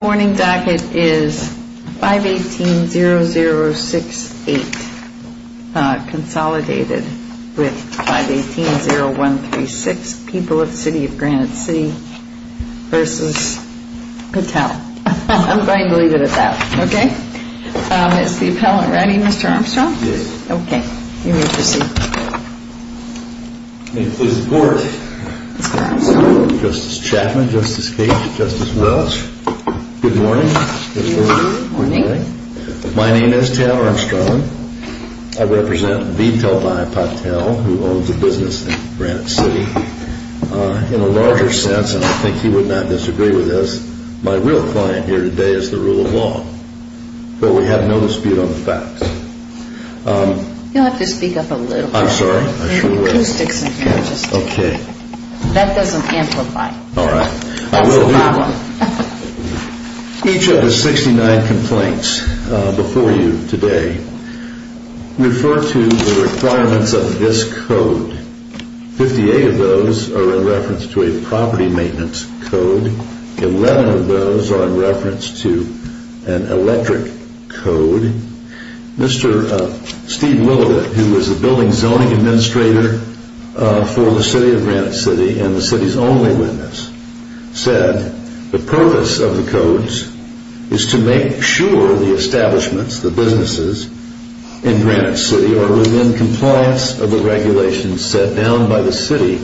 The morning docket is 518-0068, consolidated with 518-0136, People of City of Granite City v. Patel. I'm going to leave it at that, okay? Is the appellant ready, Mr. Armstrong? Yes. Okay, you may proceed. May it please the Court. Justice Chapman, Justice Cage, Justice Welch, good morning. Good morning. My name is Tam Armstrong. I represent VTEL by Patel, who owns a business in Granite City. In a larger sense, and I think you would not disagree with this, my real client here today is the rule of law. But we have no dispute on the facts. You'll have to speak up a little bit. I'm sorry. There are acoustics in here. Okay. That doesn't amplify. All right. That's a problem. Each of the 69 complaints before you today refer to the requirements of this code. Fifty-eight of those are in reference to a property maintenance code. Eleven of those are in reference to an electric code. Mr. Steve Willowrit, who is the building zoning administrator for the city of Granite City and the city's only witness, said the purpose of the codes is to make sure the establishments, the businesses in Granite City, are within compliance of the regulations set down by the city.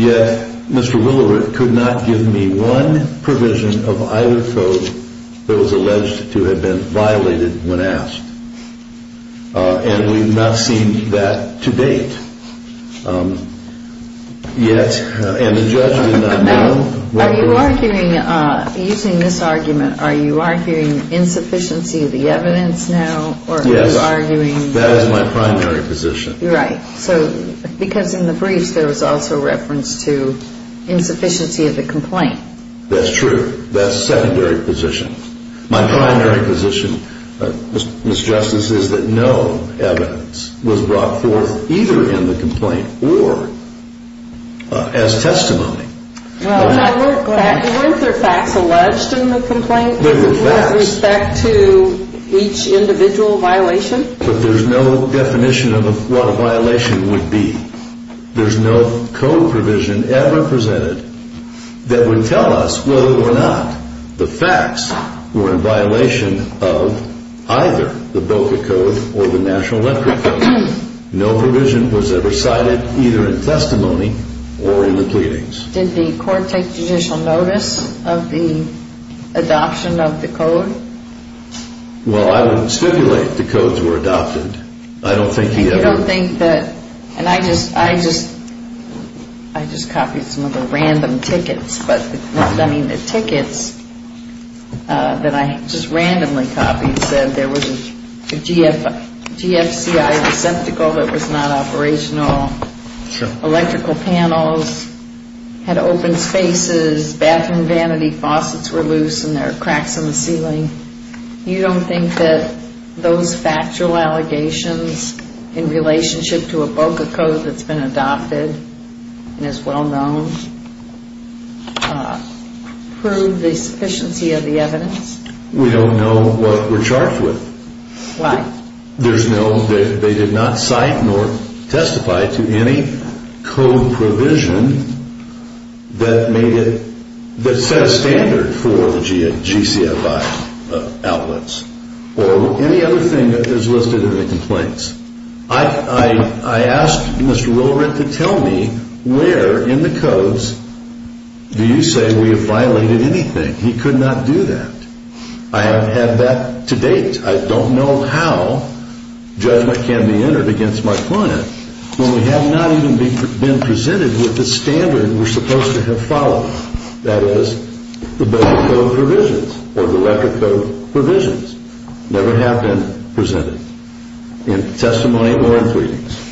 Yet, Mr. Willowrit could not give me one provision of either code that was alleged to have been violated when asked. And we've not seen that to date. Yet, and the judge did not know. Are you arguing, using this argument, are you arguing insufficiency of the evidence now? Yes, that is my primary position. Right. So, because in the briefs there was also reference to insufficiency of the complaint. That's true. That's a secondary position. My primary position, Ms. Justice, is that no evidence was brought forth either in the complaint or as testimony. Weren't there facts alleged in the complaint? There were facts. With respect to each individual violation? But there's no definition of what a violation would be. There's no code provision ever presented that would tell us whether or not the facts were in violation of either the BOCA code or the National Electric Code. No provision was ever cited either in testimony or in the pleadings. Did the court take judicial notice of the adoption of the code? Well, I wouldn't stipulate the codes were adopted. I don't think he ever... You don't think that... And I just copied some of the random tickets. But, I mean, the tickets that I just randomly copied said there was a GFCI receptacle that was not operational. Sure. Electrical panels had open spaces. Bathroom vanity faucets were loose and there were cracks in the ceiling. You don't think that those factual allegations in relationship to a BOCA code that's been adopted and is well known prove the sufficiency of the evidence? We don't know what we're charged with. Why? There's no... They did not cite nor testify to any code provision that made it... that set a standard for the GCFI outlets or any other thing that is listed in the complaints. I asked Mr. Willard to tell me where in the codes do you say we have violated anything. He could not do that. I haven't had that to date. I don't know how judgment can be entered against my client when we have not even been presented with the standard we're supposed to have followed, that is, the BOCA code provisions or the record code provisions never have been presented in testimony or in pleadings.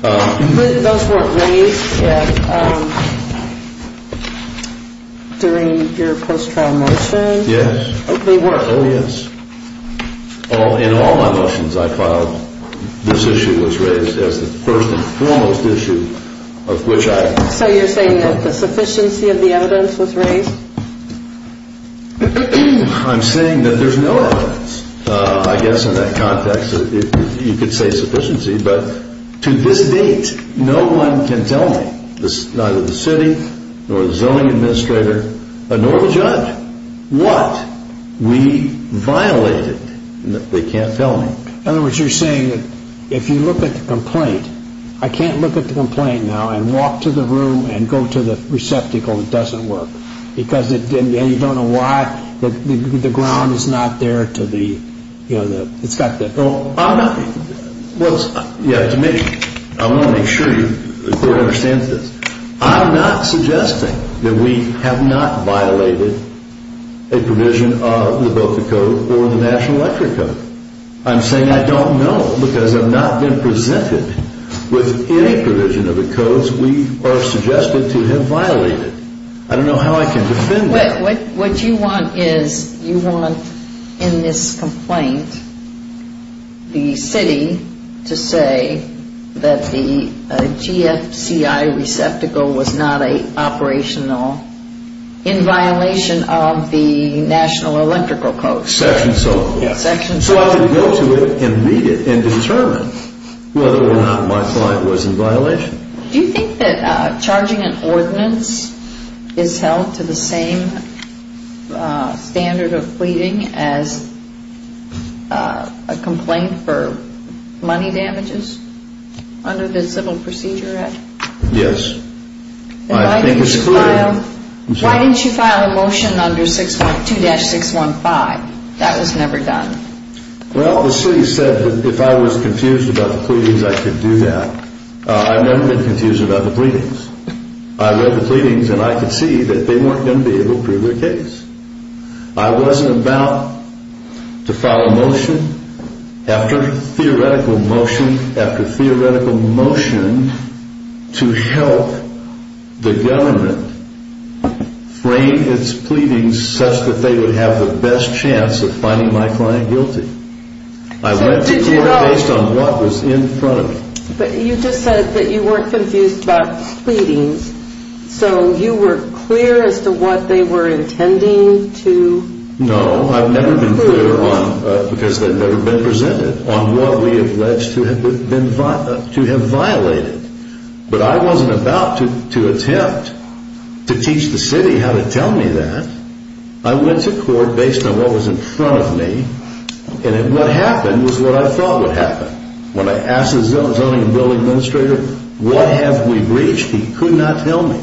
But those weren't raised during your post-trial motion? Yes. They were? Oh, yes. In all my motions I filed, this issue was raised as the first and foremost issue of which I... So you're saying that the sufficiency of the evidence was raised? I'm saying that there's no evidence, I guess, in that context that you could say sufficiency, but to this date no one can tell me, neither the city nor the zoning administrator, nor the judge, what we violated. They can't tell me. In other words, you're saying that if you look at the complaint, I can't look at the complaint now and walk to the room and go to the receptacle, it doesn't work, because you don't know why the ground is not there to the, you know, it's got the... I'm not... Well, yeah, to make... I want to make sure the court understands this. I'm not suggesting that we have not violated a provision of the BOCA code or the National Electric Code. I'm saying I don't know because I've not been presented with any provision of the codes we are suggested to have violated. I don't know how I can defend that. What you want is you want, in this complaint, the city to say that the GFCI receptacle was not operational in violation of the National Electrical Code. Section so forth. Section so forth. So I can go to it immediately and determine whether or not my client was in violation. Do you think that charging an ordinance is held to the same standard of pleading as a complaint for money damages under the Civil Procedure Act? Yes. Why didn't you file a motion under 6.2-615? That was never done. Well, the city said that if I was confused about the pleadings, I could do that. I've never been confused about the pleadings. I read the pleadings and I could see that they weren't going to be able to prove their case. I wasn't about to file a motion after theoretical motion after theoretical motion to help the government frame its pleadings such that they would have the best chance of finding my client guilty. I went to court based on what was in front of me. But you just said that you weren't confused about the pleadings. So you were clear as to what they were intending to prove. No, I've never been clear because they've never been presented on what we allege to have violated. But I wasn't about to attempt to teach the city how to tell me that. I went to court based on what was in front of me. And what happened was what I thought would happen. When I asked the zoning and building administrator what have we breached, he could not tell me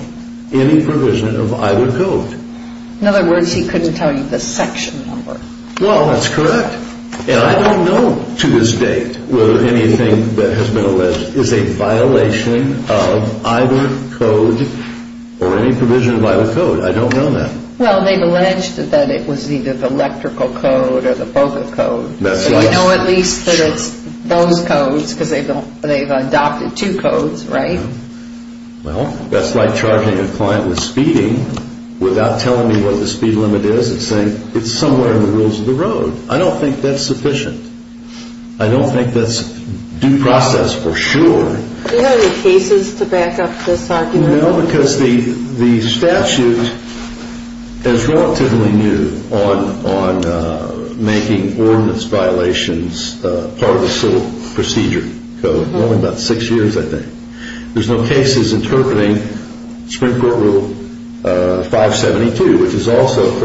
any provision of either code. In other words, he couldn't tell you the section number. Well, that's correct. And I don't know to this date whether anything that has been alleged is a violation of either code or any provision of either code. I don't know that. Well, they've alleged that it was either the electrical code or the BOCA code. So you know at least that it's those codes because they've adopted two codes, right? Well, that's like charging a client with speeding without telling me what the speed limit is and saying it's somewhere in the rules of the road. I don't think that's sufficient. I don't think that's due process for sure. Do you have any cases to back up this argument? No, because the statute is relatively new on making ordinance violations part of the civil procedure code. Only about six years, I think. There's no cases interpreting Supreme Court Rule 572, which is also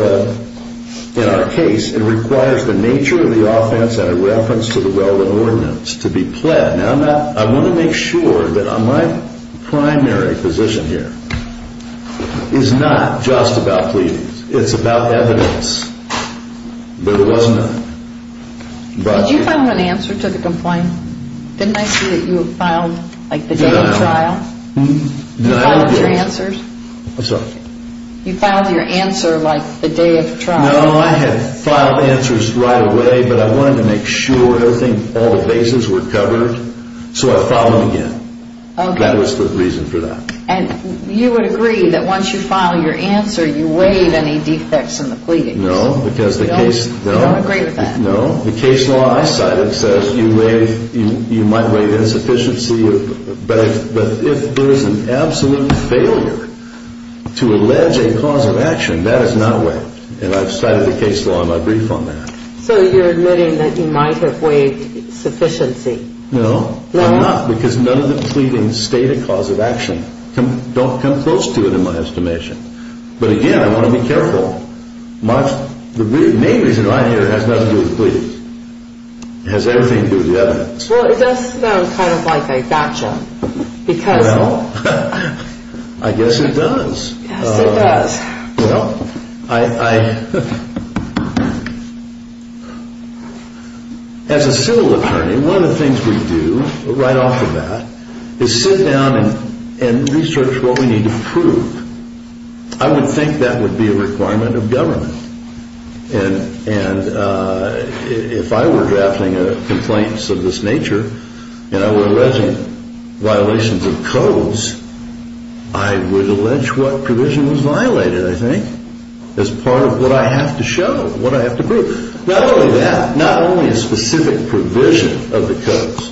in our case. It requires the nature of the offense and a reference to the relevant ordinance to be pled. I want to make sure that my primary position here is not just about pleadings. It's about evidence. But it wasn't. Did you file an answer to the complaint? Didn't I see that you filed like the day of trial? Did you file your answers? You filed your answer like the day of trial. No, I had filed answers right away, but I wanted to make sure everything, all the bases were covered. So I filed them again. That was the reason for that. And you would agree that once you file your answer, you waive any defects in the pleadings? No, because the case... You don't agree with that? No. The case law I cited says you might waive insufficiency, but if there is an absolute failure to allege a cause of action, that is not waived. And I've cited the case law in my brief on that. So you're admitting that you might have waived sufficiency? No, I'm not, because none of the pleadings state a cause of action. Don't come close to it in my estimation. But again, I want to be careful. The main reason I'm here has nothing to do with the pleadings. It has everything to do with the evidence. Well, it does sound kind of like a gotcha, because... Well, I guess it does. Yes, it does. Well, I... As a civil attorney, one of the things we do right off the bat is sit down and research what we need to prove. I would think that would be a requirement of government. And if I were drafting complaints of this nature and I were alleging violations of codes, I would allege what provision was violated, I think, as part of what I have to show, what I have to prove. Not only that, not only a specific provision of the codes,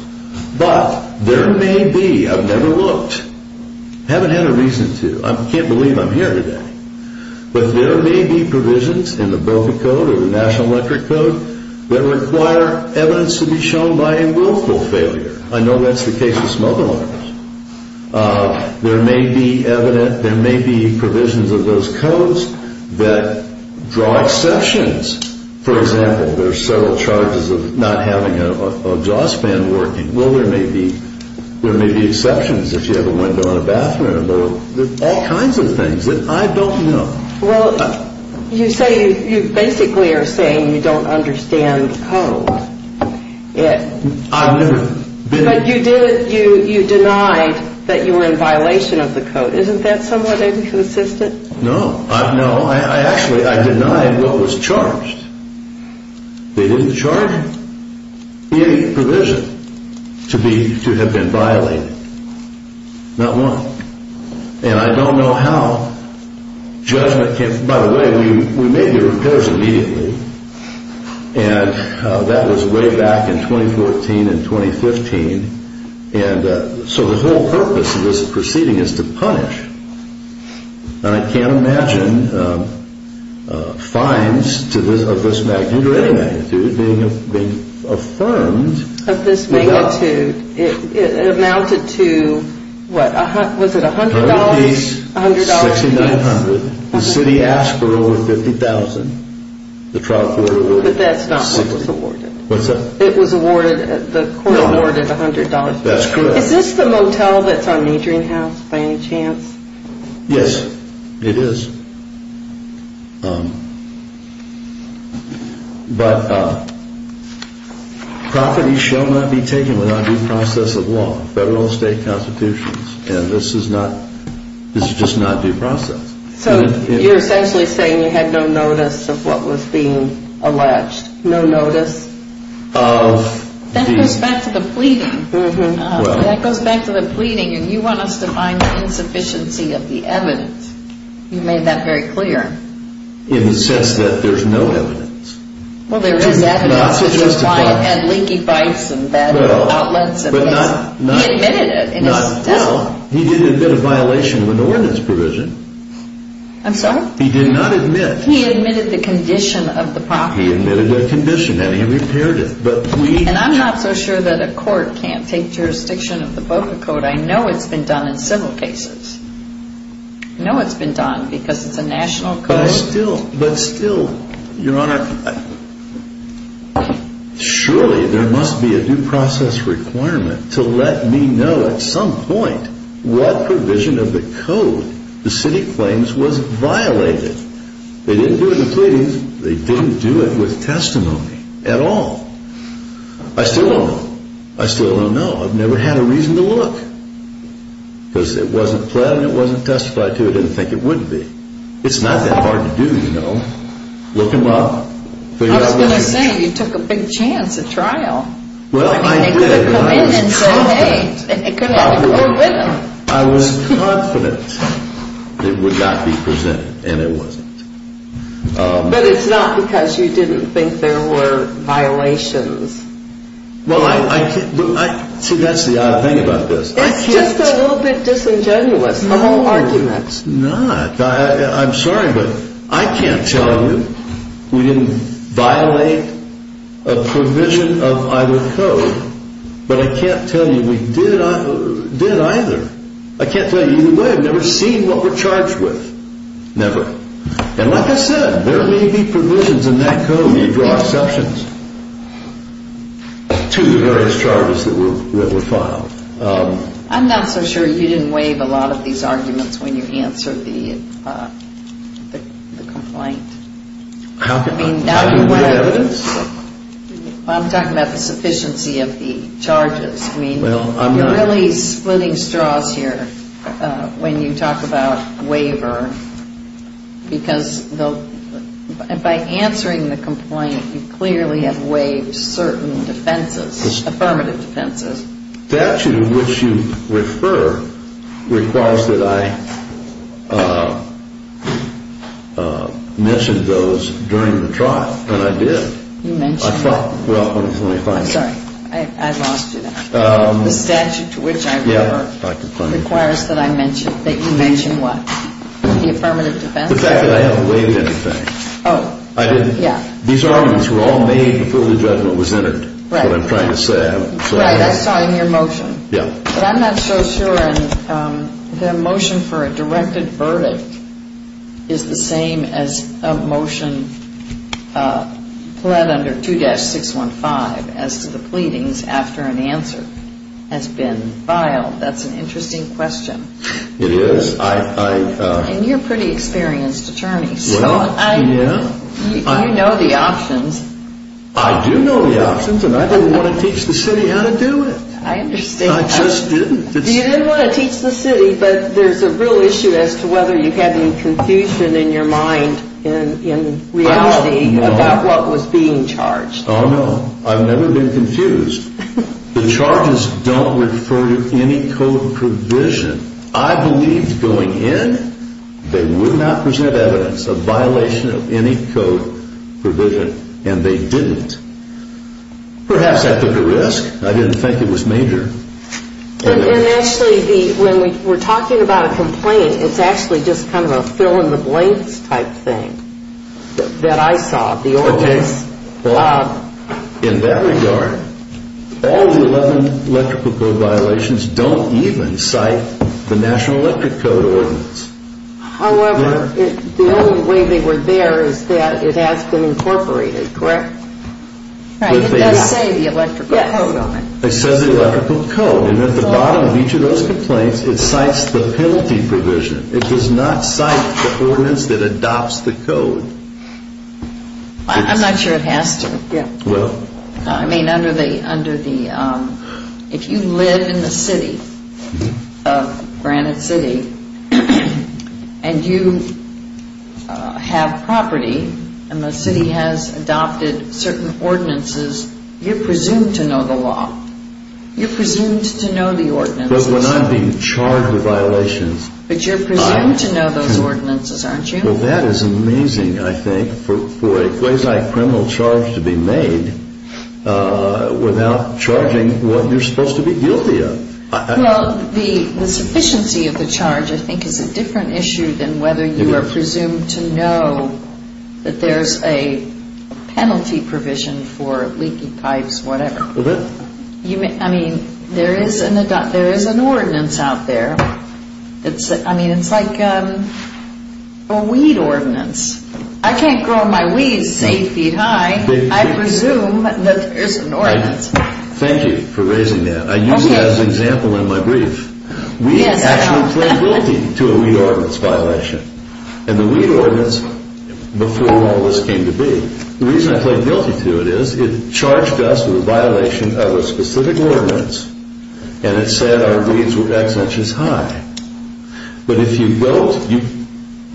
but there may be, I've never looked, haven't had a reason to. I can't believe I'm here today. But there may be provisions in the Boca Code or the National Electric Code that require evidence to be shown by a willful failure. I know that's the case with smoke alarms. There may be provisions of those codes that draw exceptions. For example, there are several charges of not having an exhaust fan working. Well, there may be exceptions if you have a window in a bathroom. There are all kinds of things that I don't know. Well, you say, you basically are saying you don't understand the code. I've never been... But you denied that you were in violation of the code. Isn't that somewhat inconsistent? No. No. Actually, I denied what was charged. They didn't charge any provision to have been violated. Not one. And I don't know how judgment can... By the way, we made the repairs immediately. And that was way back in 2014 and 2015. And so the whole purpose of this proceeding is to punish. And I can't imagine fines of this magnitude or any magnitude being affirmed without... Of this magnitude. It amounted to, what, was it $100? $100 apiece. $100 apiece. $6900. The city asked for over $50,000. The trial court awarded it. But that's not what was awarded. What's that? It was awarded, the court awarded $100. That's correct. Is this the motel that's on Adrian House by any chance? Yes. It is. But... Property shall not be taken without due process of law. Federal and state constitutions. And this is not... This is just not due process. So you're essentially saying you had no notice of what was being alleged. No notice of the... That goes back to the pleading. That goes back to the pleading. And you want us to find the insufficiency of the evidence. You made that very clear. In the sense that there's no evidence. Well, there is evidence. It's just a client had leaky pipes and bad outlets. But not... He admitted it. Well, he did admit a violation of an ordinance provision. I'm sorry? He did not admit... He admitted the condition of the property. He admitted a condition and he repaired it. And I'm not so sure that a court can't take jurisdiction of the public code. I know it's been done in several cases. I know it's been done because it's a national code. But still... But still... Your Honor... Surely there must be a due process requirement to let me know at some point what provision of the code the city claims was violated. They didn't do it in the pleadings. They didn't do it with testimony at all. I still don't know. I still don't know. I've never had a reason to look. Because it wasn't pled and it wasn't testified to. I didn't think it would be. It's not that hard to do, you know. Look them up. I was going to say, you took a big chance at trial. Well, I did. They could have come in and said, hey. They could have come in with them. I was confident it would not be presented. And it wasn't. But it's not because you didn't think there were violations. See, that's the odd thing about this. It's just a little bit disingenuous, the whole argument. No, it's not. I'm sorry, but I can't tell you we didn't violate a provision of either code. But I can't tell you we did either. I can't tell you either way. I've never seen what we're charged with. Never. And like I said, there may be provisions in that code. You draw exceptions to the various charges that were filed. I'm not so sure you didn't waive a lot of these arguments when you answered the complaint. How can you get evidence? I'm talking about the sufficiency of the charges. You're really splitting straws here when you talk about waiver. Because by answering the complaint, you clearly have waived certain defenses, affirmative defenses. The statute in which you refer requires that I mention those during the trial. And I did. You mentioned it. Well, let me find it. Sorry, I lost you there. The statute to which I refer requires that I mention, that you mention what? The affirmative defense? The fact that I haven't waived anything. Oh. I didn't. Yeah. These arguments were all made before the judgment was entered. Right. That's what I'm trying to say. Right. That's why I'm your motion. Yeah. But I'm not so sure the motion for a directed verdict is the same as a motion pled under 2-615 as to the pleadings after an answer has been filed. That's an interesting question. It is. And you're a pretty experienced attorney, so you know the options. I do know the options, and I didn't want to teach the city how to do it. I understand. I just didn't. You didn't want to teach the city, but there's a real issue as to whether you had any confusion in your mind in reality about what was being charged. Oh, no. I've never been confused. The charges don't refer to any code provision. I believed going in they would not present evidence of violation of any code provision, and they didn't. Perhaps I took a risk. I didn't think it was major. And actually, when we're talking about a complaint, it's actually just kind of a fill-in-the-blanks type thing that I saw. Okay. In that regard, all the 11 electrical code violations don't even cite the National Electric Code ordinance. However, the only way they were there is that it has been incorporated, correct? Right. It does say the electrical code on it. It says the electrical code, and at the bottom of each of those complaints, it cites the penalty provision. It does not cite the ordinance that adopts the code. I'm not sure it has to. Well? I mean, under the ‑‑ if you live in the city of Granite City, and you have property, and the city has adopted certain ordinances, you're presumed to know the law. You're presumed to know the ordinances. But when I'm being charged with violations. But you're presumed to know those ordinances, aren't you? Well, that is amazing, I think, for a quasi-criminal charge to be made without charging what you're supposed to be guilty of. Well, the sufficiency of the charge, I think, is a different issue than whether you are presumed to know that there's a penalty provision for leaky pipes, whatever. I mean, there is an ordinance out there. I mean, it's like a weed ordinance. I can't grow my weeds eight feet high. I presume that there's an ordinance. Thank you for raising that. I used that as an example in my brief. We actually plead guilty to a weed ordinance violation. And the weed ordinance, before all this came to be, the reason I plead guilty to it is it charged us with a violation of a specific ordinance. And it said our weeds were X inches high. But if you don't,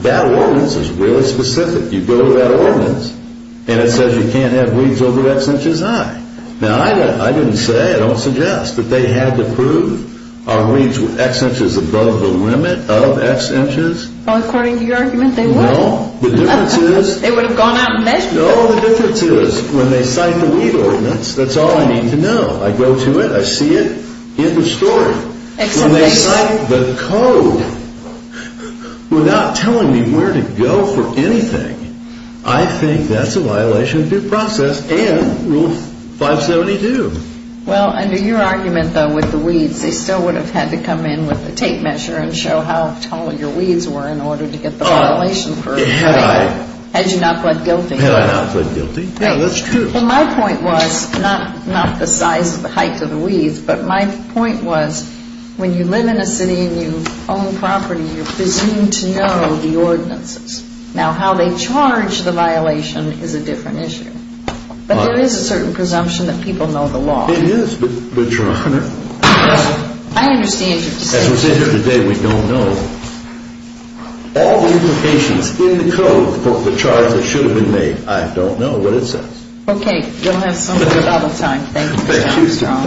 that ordinance is really specific. You go to that ordinance, and it says you can't have weeds over X inches high. Now, I didn't say, I don't suggest that they had to prove our weeds were X inches above the limit of X inches. Well, according to your argument, they would. No, the difference is. They would have gone out and measured them. No, the difference is, when they cite the weed ordinance, that's all I need to know. I go to it. I see it in the story. When they cite the code without telling me where to go for anything, I think that's a violation of due process and Rule 572. Well, under your argument, though, with the weeds, they still would have had to come in with a tape measure and show how tall your weeds were in order to get the violation. Had you not pled guilty. Had I not pled guilty. Yeah, that's true. Well, my point was not the size of the height of the weeds, but my point was, when you live in a city and you own property, you're presumed to know the ordinances. Now, how they charge the violation is a different issue. But there is a certain presumption that people know the law. It is, but, Your Honor. I understand your decision. As we sit here today, we don't know. All the implications in the code for the charge that should have been made, I don't know what it says. Okay, you'll have some more rebuttal time. Thank you, sir.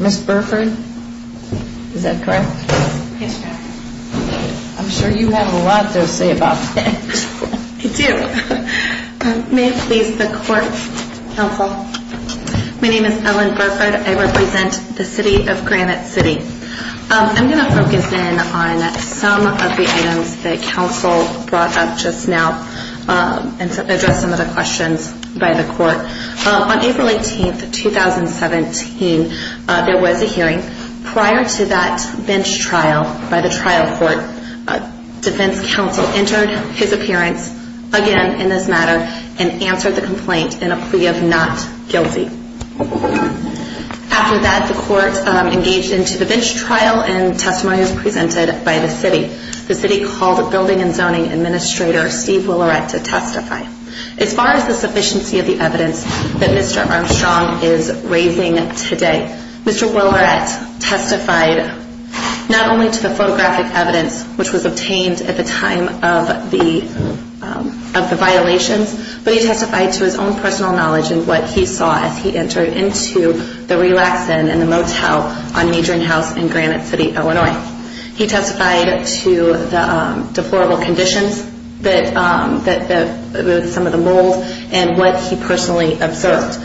Ms. Burford, is that correct? Yes, Your Honor. I'm sure you have a lot to say about that. I do. May it please the court, counsel. My name is Ellen Burford. I represent the City of Granite City. I'm going to focus in on some of the items that counsel brought up just now and address some of the questions by the court. On April 18, 2017, there was a hearing. Prior to that bench trial by the trial court, defense counsel entered his appearance again in this matter and answered the complaint in a plea of not guilty. After that, the court engaged into the bench trial and testimony was presented by the city. The city called the Building and Zoning Administrator, Steve Willerette, to testify. As far as the sufficiency of the evidence that Mr. Armstrong is raising today, Mr. Willerette testified not only to the photographic evidence, which was obtained at the time of the violations, but he testified to his own personal knowledge and what he saw as he entered into the relax-in in the motel on Majoring House in Granite City, Illinois. He testified to the deplorable conditions, some of the mold, and what he personally observed.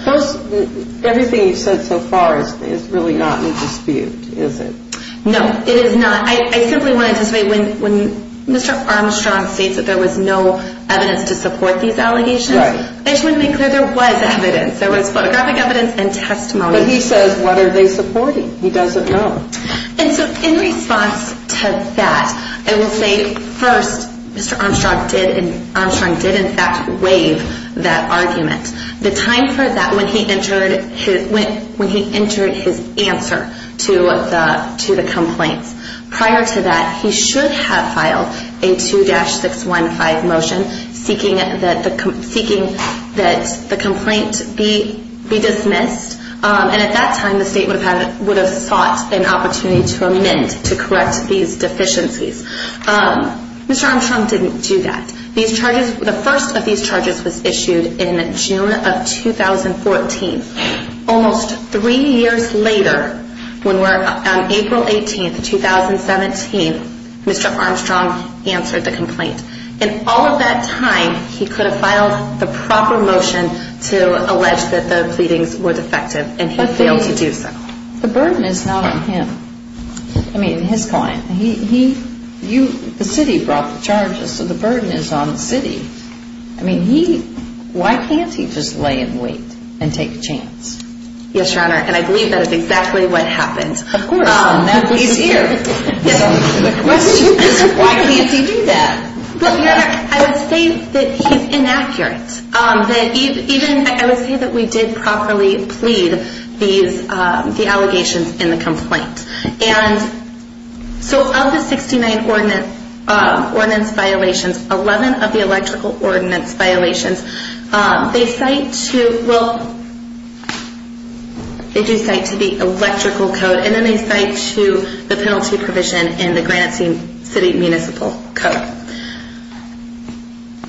Everything you've said so far is really not in dispute, is it? No, it is not. I simply want to say when Mr. Armstrong states that there was no evidence to support these allegations, I just want to make clear there was evidence. There was photographic evidence and testimony. But he says, what are they supporting? He doesn't know. And so in response to that, I will say, first, Mr. Armstrong did in fact waive that argument. The time for that, when he entered his answer to the complaints. Prior to that, he should have filed a 2-615 motion seeking that the complaint be dismissed. And at that time, the state would have sought an opportunity to amend, to correct these deficiencies. Mr. Armstrong didn't do that. The first of these charges was issued in June of 2014. Almost three years later, on April 18, 2017, Mr. Armstrong answered the complaint. In all of that time, he could have filed the proper motion to allege that the pleadings were defective, and he failed to do so. The burden is not on him. I mean, his client. The city brought the charges, so the burden is on the city. I mean, why can't he just lay in wait and take a chance? Yes, Your Honor, and I believe that is exactly what happened. Of course. He's here. The question is, why can't he do that? Well, Your Honor, I would say that he's inaccurate. I would say that we did properly plead the allegations in the complaint. So of the 69 ordinance violations, 11 of the electrical ordinance violations, they cite to the electrical code, and then they cite to the penalty provision in the Granite City Municipal Code.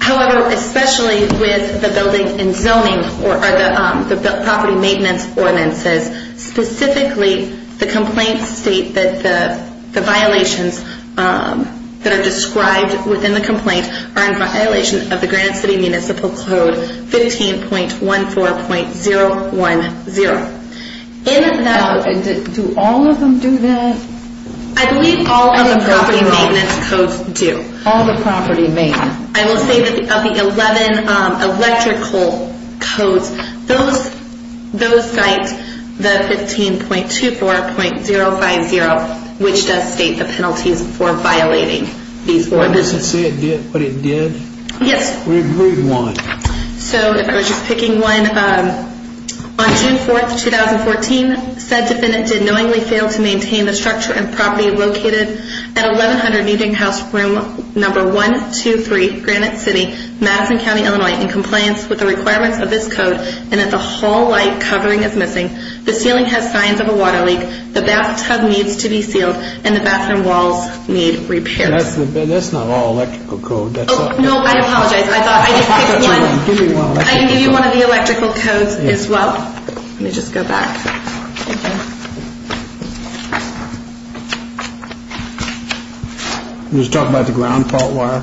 However, especially with the building and zoning or the property maintenance ordinances, specifically the complaints state that the violations that are described within the complaint are in violation of the Granite City Municipal Code 15.14.010. Do all of them do that? I believe all of the property maintenance codes do. All the property maintenance. I will say that of the 11 electrical codes, those cite the 15.24.050, which does state the penalties for violating these ordinances. Does it say what it did? Yes. Where do you want it? So if I was just picking one, on June 4, 2014, said defendant did knowingly fail to maintain the structure and property located at 1100 Newton House Room No. 123, Granite City, Madison County, Illinois, in compliance with the requirements of this code, and that the hall light covering is missing, the ceiling has signs of a water leak, the bathtub needs to be sealed, and the bathroom walls need repair. That's not all electrical code. Oh, no, I apologize. I thought I just picked one. Give me one. I can give you one of the electrical codes as well. Let me just go back. I'm just talking about the ground fault wire.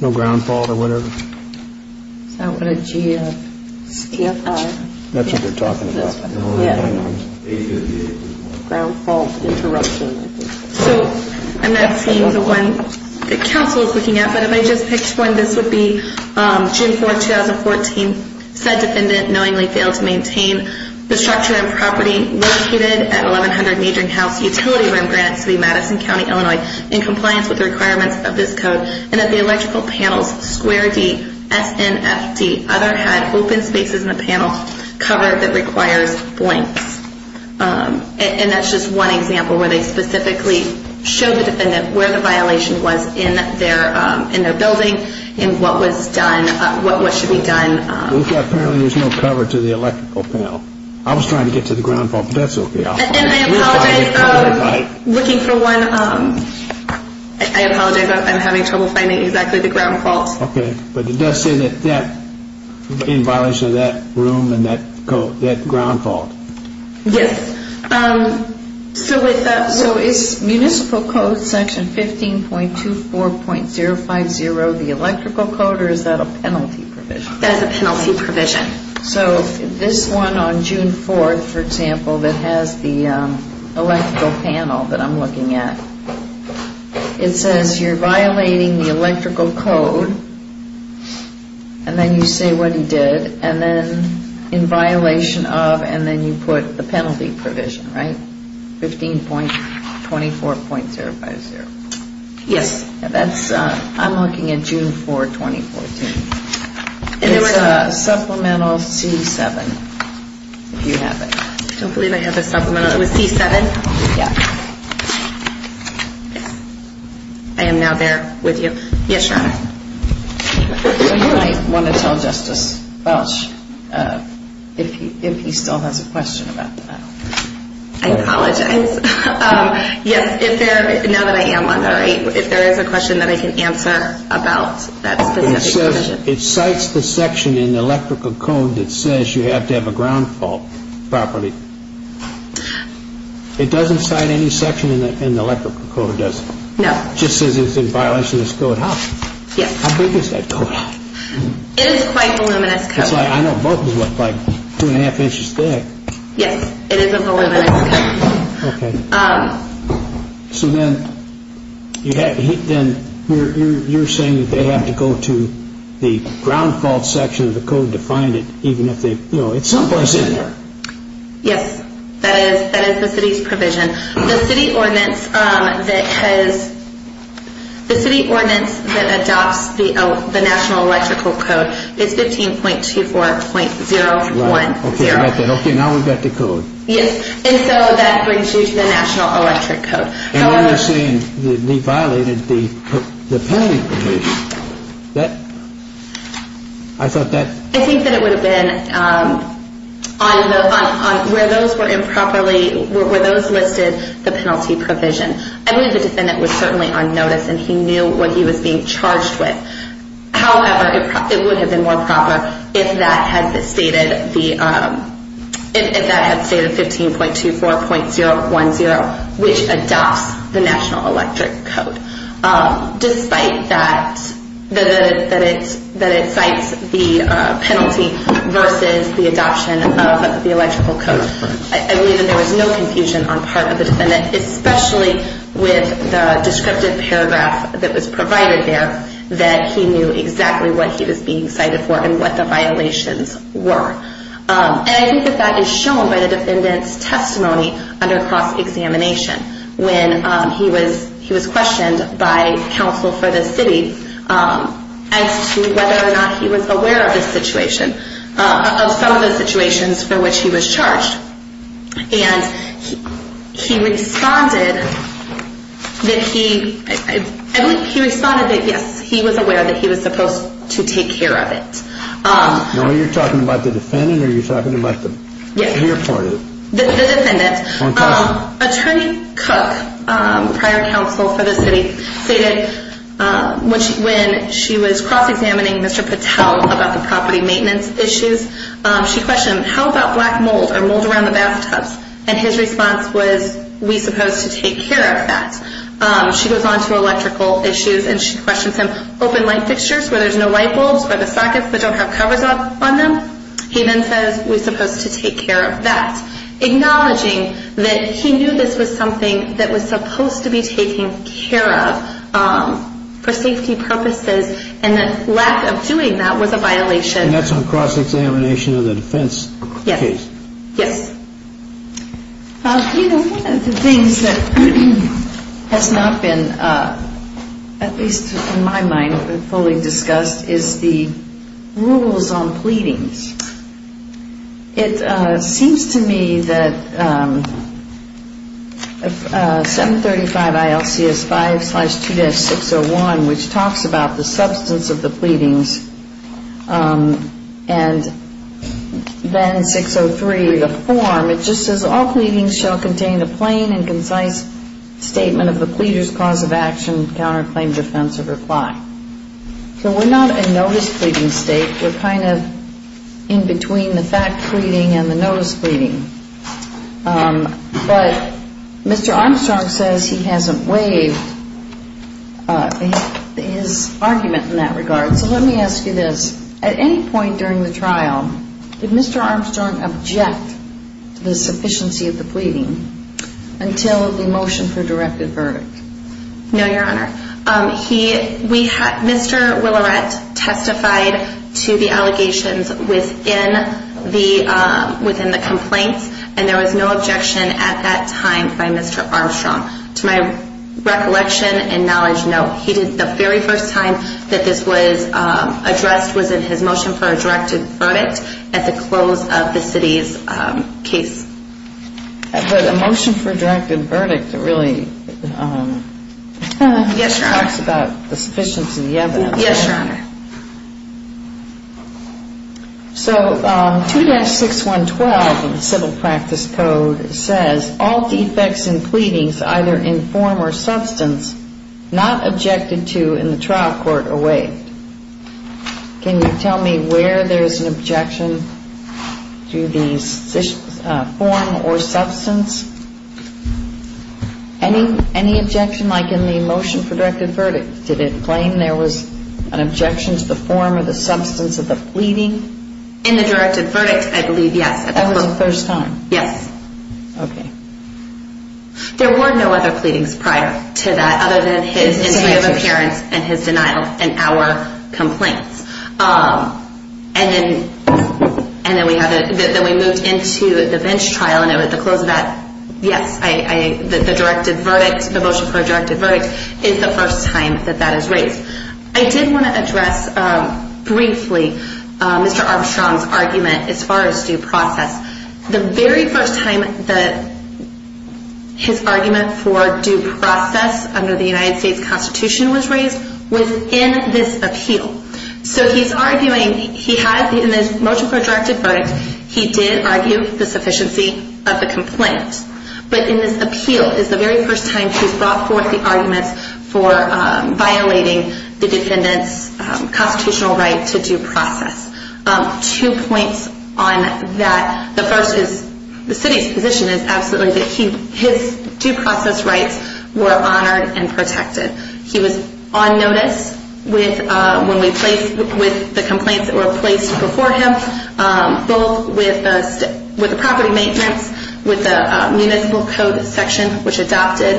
No ground fault or whatever. Is that what a GFI? That's what they're talking about. Ground fault interruption. So I'm not seeing the one that counsel is looking at, but if I just picked one, this would be June 4, 2014, said defendant knowingly failed to maintain the structure and property located at 1100 Newton House Utility Room, Granite City, Madison County, Illinois, in compliance with the requirements of this code, and that the electrical panels, square D, S, N, F, D, other had open spaces in the panel cover that requires blanks. And that's just one example where they specifically showed the defendant where the violation was in their building and what was done, what should be done. Apparently there's no cover to the electrical panel. I was trying to get to the ground fault, but that's okay. And I apologize. Looking for one. I apologize. I'm having trouble finding exactly the ground fault. Okay. But it does say that in violation of that room and that ground fault. Yes. So is municipal code section 15.24.050 the electrical code, or is that a penalty provision? That's a penalty provision. So this one on June 4, for example, that has the electrical panel that I'm looking at, it says you're violating the electrical code, and then you say what you did, and then in violation of, and then you put the penalty provision, right? 15.24.050. Yes. That's, I'm looking at June 4, 2014. It's supplemental C7, if you have it. I don't believe I have the supplemental. It was C7? Yeah. I am now there with you. Yes, Your Honor. So you might want to tell Justice Welch if he still has a question about the penalty. I apologize. Yes, if there, now that I am on there, if there is a question that I can answer about that specific provision. It says, it cites the section in the electrical code that says you have to have a ground fault properly. It doesn't cite any section in the electrical code, does it? No. It just says it's in violation of this code. Yes. How big is that code? It is quite voluminous code. I know both look like two and a half inches thick. Yes, it is a voluminous code. Okay. So then you're saying that they have to go to the ground fault section of the code to find it, even if they, you know, it's someplace in there. Yes, that is the city's provision. The city ordinance that has, the city ordinance that adopts the national electrical code is 15.24.010. Okay, now we've got the code. Yes, and so that brings you to the national electric code. And then you're saying they violated the penalty provision. That, I thought that. I think that it would have been on the, where those were improperly, where those listed the penalty provision. I believe the defendant was certainly on notice, and he knew what he was being charged with. However, it would have been more proper if that had stated the, if that had stated 15.24.010, which adopts the national electric code, despite that it cites the penalty versus the adoption of the electrical code. I believe that there was no confusion on part of the defendant, especially with the descriptive paragraph that was provided there, that he knew exactly what he was being cited for and what the violations were. And I think that that is shown by the defendant's testimony under cross-examination, when he was questioned by counsel for the city as to whether or not he was aware of the situation, of some of the situations for which he was charged. And he responded that he, I believe he responded that yes, he was aware that he was supposed to take care of it. Now, are you talking about the defendant, or are you talking about the reappointed? Yes, the defendant. Attorney Cook, prior counsel for the city, stated when she was cross-examining Mr. Patel about the property maintenance issues, she questioned him, how about black mold, or mold around the bathtubs? And his response was, we supposed to take care of that. She goes on to electrical issues, and she questions him, where there's no light bulbs, where there's sockets that don't have covers on them. He then says, we supposed to take care of that. Acknowledging that he knew this was something that was supposed to be taken care of for safety purposes, and that lack of doing that was a violation. And that's on cross-examination of the defense case. Yes. You know, one of the things that has not been, at least in my mind, fully discussed is the rules on pleadings. It seems to me that 735 ILCS 5-2-601, which talks about the substance of the pleadings, and then 603, the form, it just says, all pleadings shall contain a plain and concise statement of the pleader's cause of action, counterclaim, defense, or reply. So we're not a notice pleading state. We're kind of in between the fact pleading and the notice pleading. But Mr. Armstrong says he hasn't waived his argument in that regard. So let me ask you this. At any point during the trial, did Mr. Armstrong object to the sufficiency of the pleading until the motion for directed verdict? No, Your Honor. Mr. Willerette testified to the allegations within the complaints, and there was no objection at that time by Mr. Armstrong. To my recollection and knowledge, no. The very first time that this was addressed was in his motion for a directed verdict at the close of the city's case. But a motion for a directed verdict really talks about the sufficiency of the evidence. Yes, Your Honor. So 2-612 of the civil practice code says, all defects in pleadings either in form or substance not objected to in the trial court are waived. Can you tell me where there is an objection to the form or substance? Any objection like in the motion for directed verdict? Did it claim there was an objection to the form or substance of the pleading? In the directed verdict, I believe, yes. That was the first time? Yes. Okay. There were no other pleadings prior to that other than his appearance and his denial in our complaints. And then we moved into the bench trial, and at the close of that, yes. The motion for a directed verdict is the first time that that is raised. I did want to address briefly Mr. Armstrong's argument as far as due process. The very first time that his argument for due process under the United States Constitution was raised was in this appeal. So he's arguing he had in this motion for a directed verdict, he did argue the sufficiency of the complaint. But in this appeal is the very first time he's brought forth the arguments for violating the defendant's constitutional right to due process. Two points on that. The first is the city's position is absolutely that his due process rights were honored and protected. He was on notice with the complaints that were placed before him, both with the property maintenance, with the municipal code section, which adopted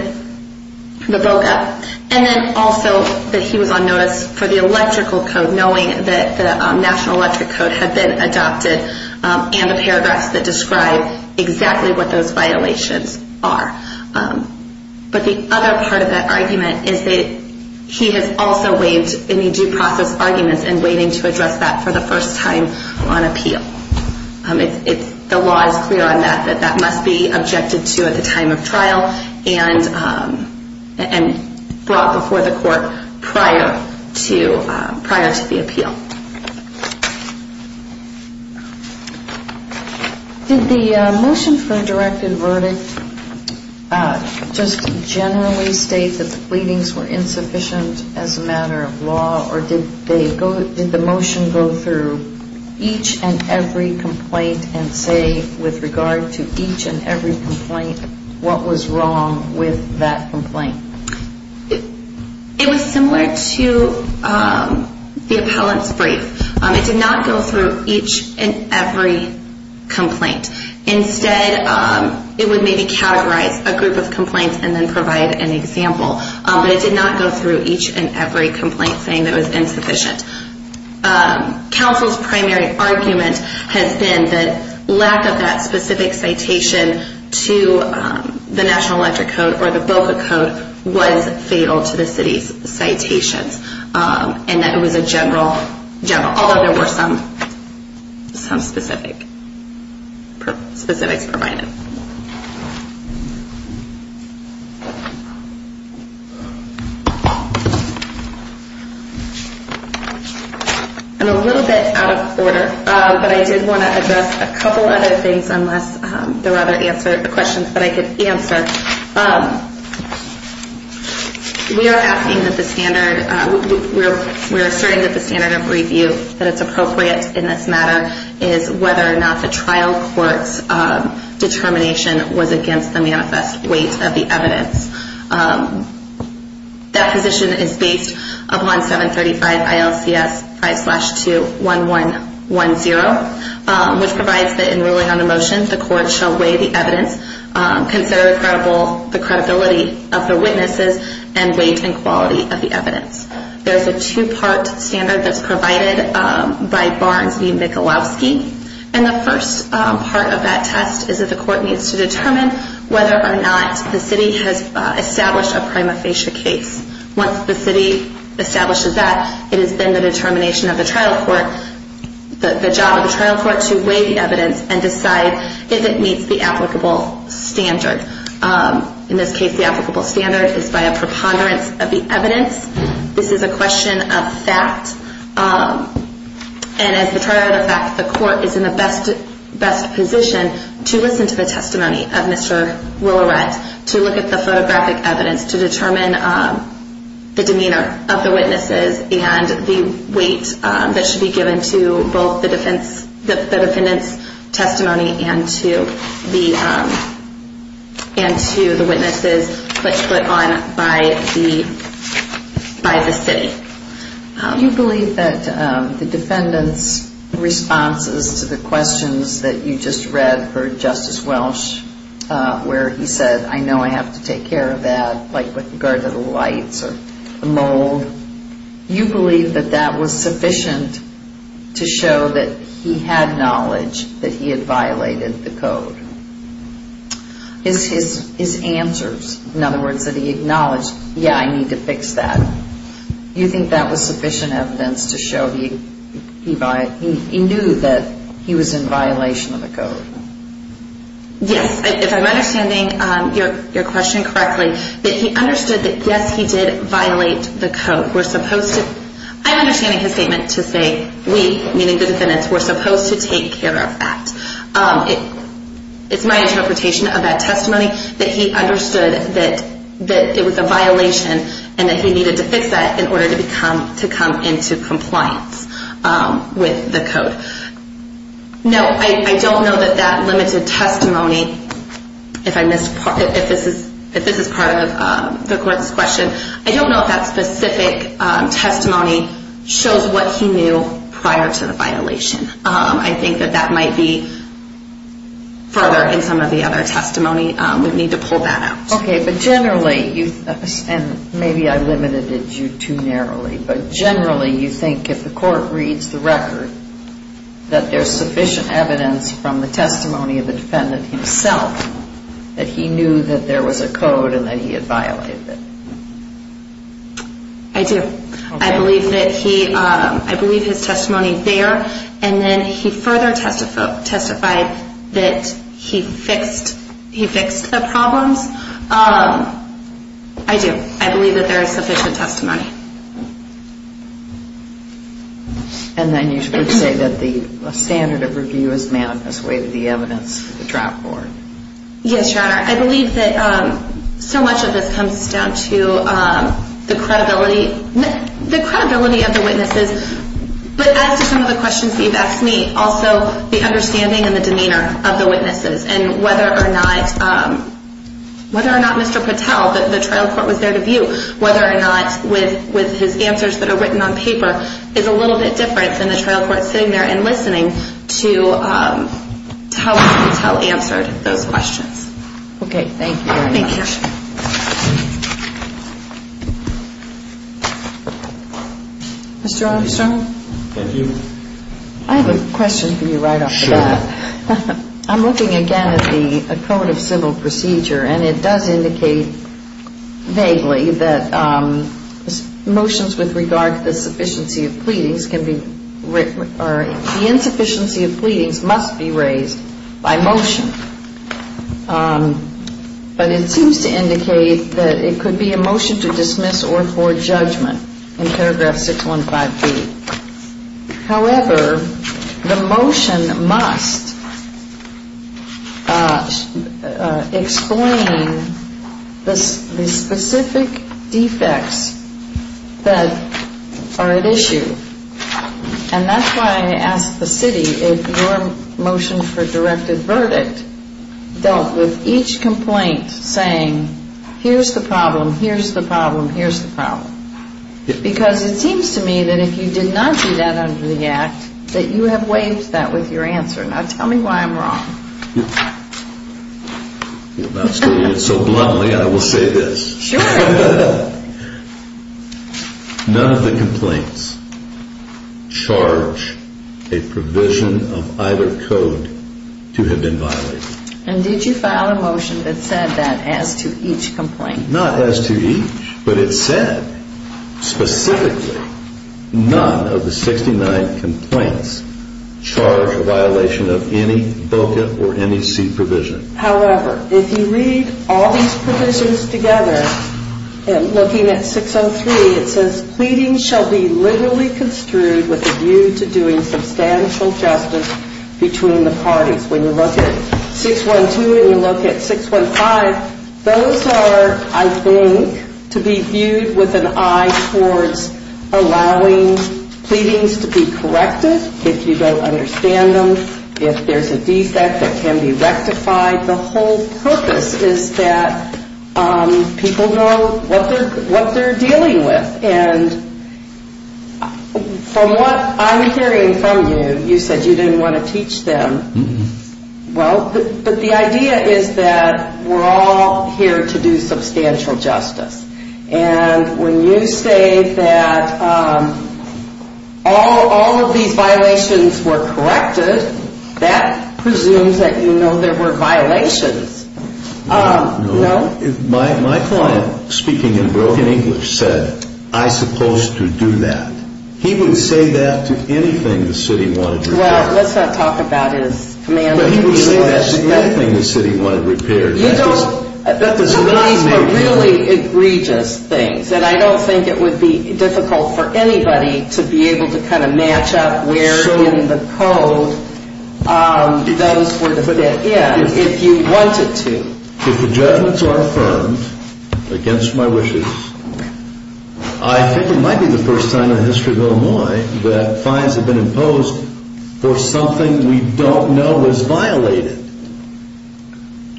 the VOCA, and then also that he was on notice for the electrical code, knowing that the National Electric Code had been adopted and the paragraphs that describe exactly what those violations are. But the other part of that argument is that he has also waived any due process arguments and waiting to address that for the first time on appeal. The law is clear on that, that that must be objected to at the time of trial and brought before the court prior to the appeal. Did the motion for a directed verdict just generally state that the pleadings were insufficient as a matter of law, or did the motion go through each and every complaint and say with regard to each and every complaint what was wrong with that complaint? It was similar to the appellant's brief. It did not go through each and every complaint. Instead, it would maybe categorize a group of complaints and then provide an example, but it did not go through each and every complaint saying it was insufficient. Counsel's primary argument has been that lack of that specific citation to the National Electric Code or the VOCA code was fatal to the city's citations, and that it was a general, although there were some specifics provided. I'm a little bit out of order, but I did want to address a couple other things unless there were other questions that I could answer. We are asking that the standard, we're asserting that the standard of review, that it's appropriate in this matter, is whether or not the trial court's determination was against the manifest weight of the evidence. That position is based upon 735 ILCS 5-2-1110, which provides that in ruling on a motion, the court shall weigh the evidence, consider the credibility of the witnesses, and weight and quality of the evidence. There's a two-part standard that's provided by Barnes v. Michalowski, and the first part of that test is that the court needs to determine whether or not the city has established a prima facie case. Once the city establishes that, it has been the determination of the trial court, the job of the trial court to weigh the evidence and decide if it meets the applicable standard. In this case, the applicable standard is by a preponderance of the evidence. This is a question of fact, and as the trial of fact, the court is in the best position to listen to the testimony of Mr. Willerette, to look at the photographic evidence to determine the demeanor of the witnesses and the weight that should be given to both the defendant's testimony and to the witnesses put on by the city. Do you believe that the defendant's responses to the questions that you just read for Justice Welch, where he said, I know I have to take care of that, like with regard to the lights or the mold, you believe that that was sufficient to show that he had knowledge that he had violated the code? His answers, in other words, that he acknowledged, yeah, I need to fix that, you think that was sufficient evidence to show he knew that he was in violation of the code? Yes, if I'm understanding your question correctly, that he understood that yes, he did violate the code. I'm understanding his statement to say we, meaning the defendants, were supposed to take care of that. It's my interpretation of that testimony that he understood that it was a violation and that he needed to fix that in order to come into compliance with the code. No, I don't know that that limited testimony, if this is part of the court's question, I don't know if that specific testimony shows what he knew prior to the violation. I think that that might be further in some of the other testimony. We'd need to pull that out. Okay, but generally, and maybe I limited you too narrowly, but generally you think if the court reads the record that there's sufficient evidence from the testimony of the defendant himself that he knew that there was a code and that he had violated it? I do. I believe that he, I believe his testimony there, and then he further testified that he fixed the problems. I do. I believe that there is sufficient testimony. And then you would say that the standard of review is met as way to the evidence of the trial court. Yes, Your Honor. I believe that so much of this comes down to the credibility, the credibility of the witnesses, but as to some of the questions that you've asked me, also the understanding and the demeanor of the witnesses and whether or not Mr. Patel, the trial court was there to view whether or not with his answers that are written on paper, is a little bit different than the trial court sitting there and listening to how Mr. Patel answered those questions. Okay, thank you very much. Mr. Armstrong? Thank you. I have a question for you right off the bat. Sure. I'm looking again at the code of civil procedure, and it does indicate vaguely that motions with regard to the sufficiency of pleadings can be, or the insufficiency of pleadings must be raised by motion. But it seems to indicate that it could be a motion to dismiss or for judgment in paragraph 615B. However, the motion must explain the specific defects that are at issue. And that's why I asked the city if your motion for directed verdict dealt with each complaint saying, here's the problem, here's the problem, here's the problem. Because it seems to me that if you did not do that under the Act, that you have waived that with your answer. Now tell me why I'm wrong. If I'm speaking so bluntly, I will say this. Sure. None of the complaints charge a provision of either code to have been violated. And did you file a motion that said that as to each complaint? Not as to each, but it said specifically none of the 69 complaints charge a violation of any VOCA or NEC provision. However, if you read all these provisions together, and looking at 603, it says pleadings shall be literally construed with a view to doing substantial justice between the parties. When you look at 612 and you look at 615, those are, I think, to be viewed with an eye towards allowing pleadings to be corrected if you don't understand them, if there's a defect that can be rectified. The whole purpose is that people know what they're dealing with. And from what I'm hearing from you, you said you didn't want to teach them. Well, but the idea is that we're all here to do substantial justice. And when you say that all of these violations were corrected, that presumes that you know there were violations. No. My client, speaking in broken English, said, I supposed to do that. He would say that to anything the city wanted repaired. Well, let's not talk about his command of the e-mail address. But he would say that to anything the city wanted repaired. These were really egregious things. And I don't think it would be difficult for anybody to be able to kind of match up where in the code those were to fit in if you wanted to. If the judgments are affirmed against my wishes, I think it might be the first time in the history of Illinois that fines have been imposed for something we don't know was violated.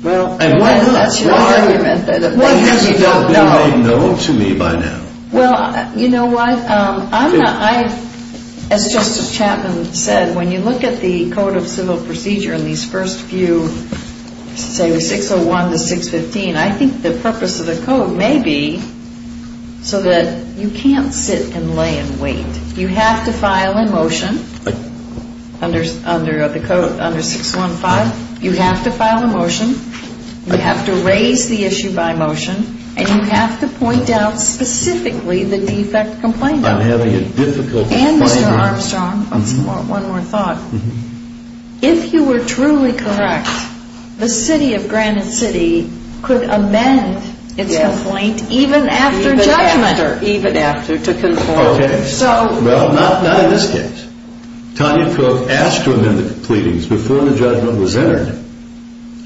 Well, unless you don't know. What has not been made known to me by now? Well, you know what? As Justice Chapman said, when you look at the Code of Civil Procedure in these first few, say, 601 to 615, I think the purpose of the code may be so that you can't sit and lay and wait. You have to file a motion under 615. You have to file a motion. You have to raise the issue by motion. And you have to point out specifically the defect complaint. I'm having a difficult time here. And, Mr. Armstrong, one more thought. If you were truly correct, the city of Granite City could amend its complaint even after judgment. Even after to conform. Okay. Well, not in this case. Tanya Cook asked to amend the pleadings before the judgment was entered.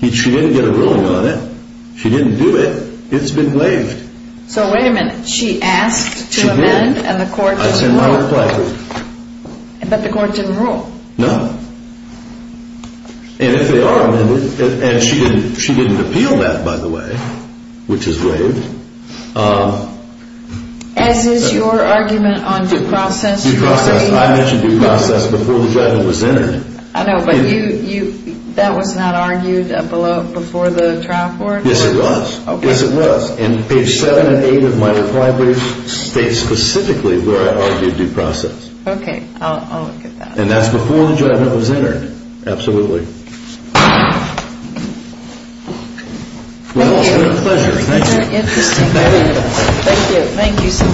She didn't get a ruling on it. She didn't do it. It's been waived. So, wait a minute. She asked to amend and the court didn't rule. I sent my reply to her. But the court didn't rule. No. And if they are amended, and she didn't appeal that, by the way, which is waived. As is your argument on due process? Due process. I mentioned due process before the judgment was entered. I know. But that was not argued before the trial court? Yes, it was. Yes, it was. And page 7 and 8 of my reply brief states specifically where I argued due process. Okay. I'll look at that. And that's before the judgment was entered. Absolutely. Thank you. Well, it's been a pleasure. Thank you. Interesting. Thank you. Thank you so much.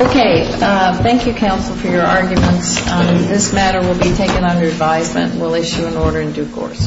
Okay. Thank you, counsel, for your arguments. This matter will be taken under advisement. We'll issue an order in due course.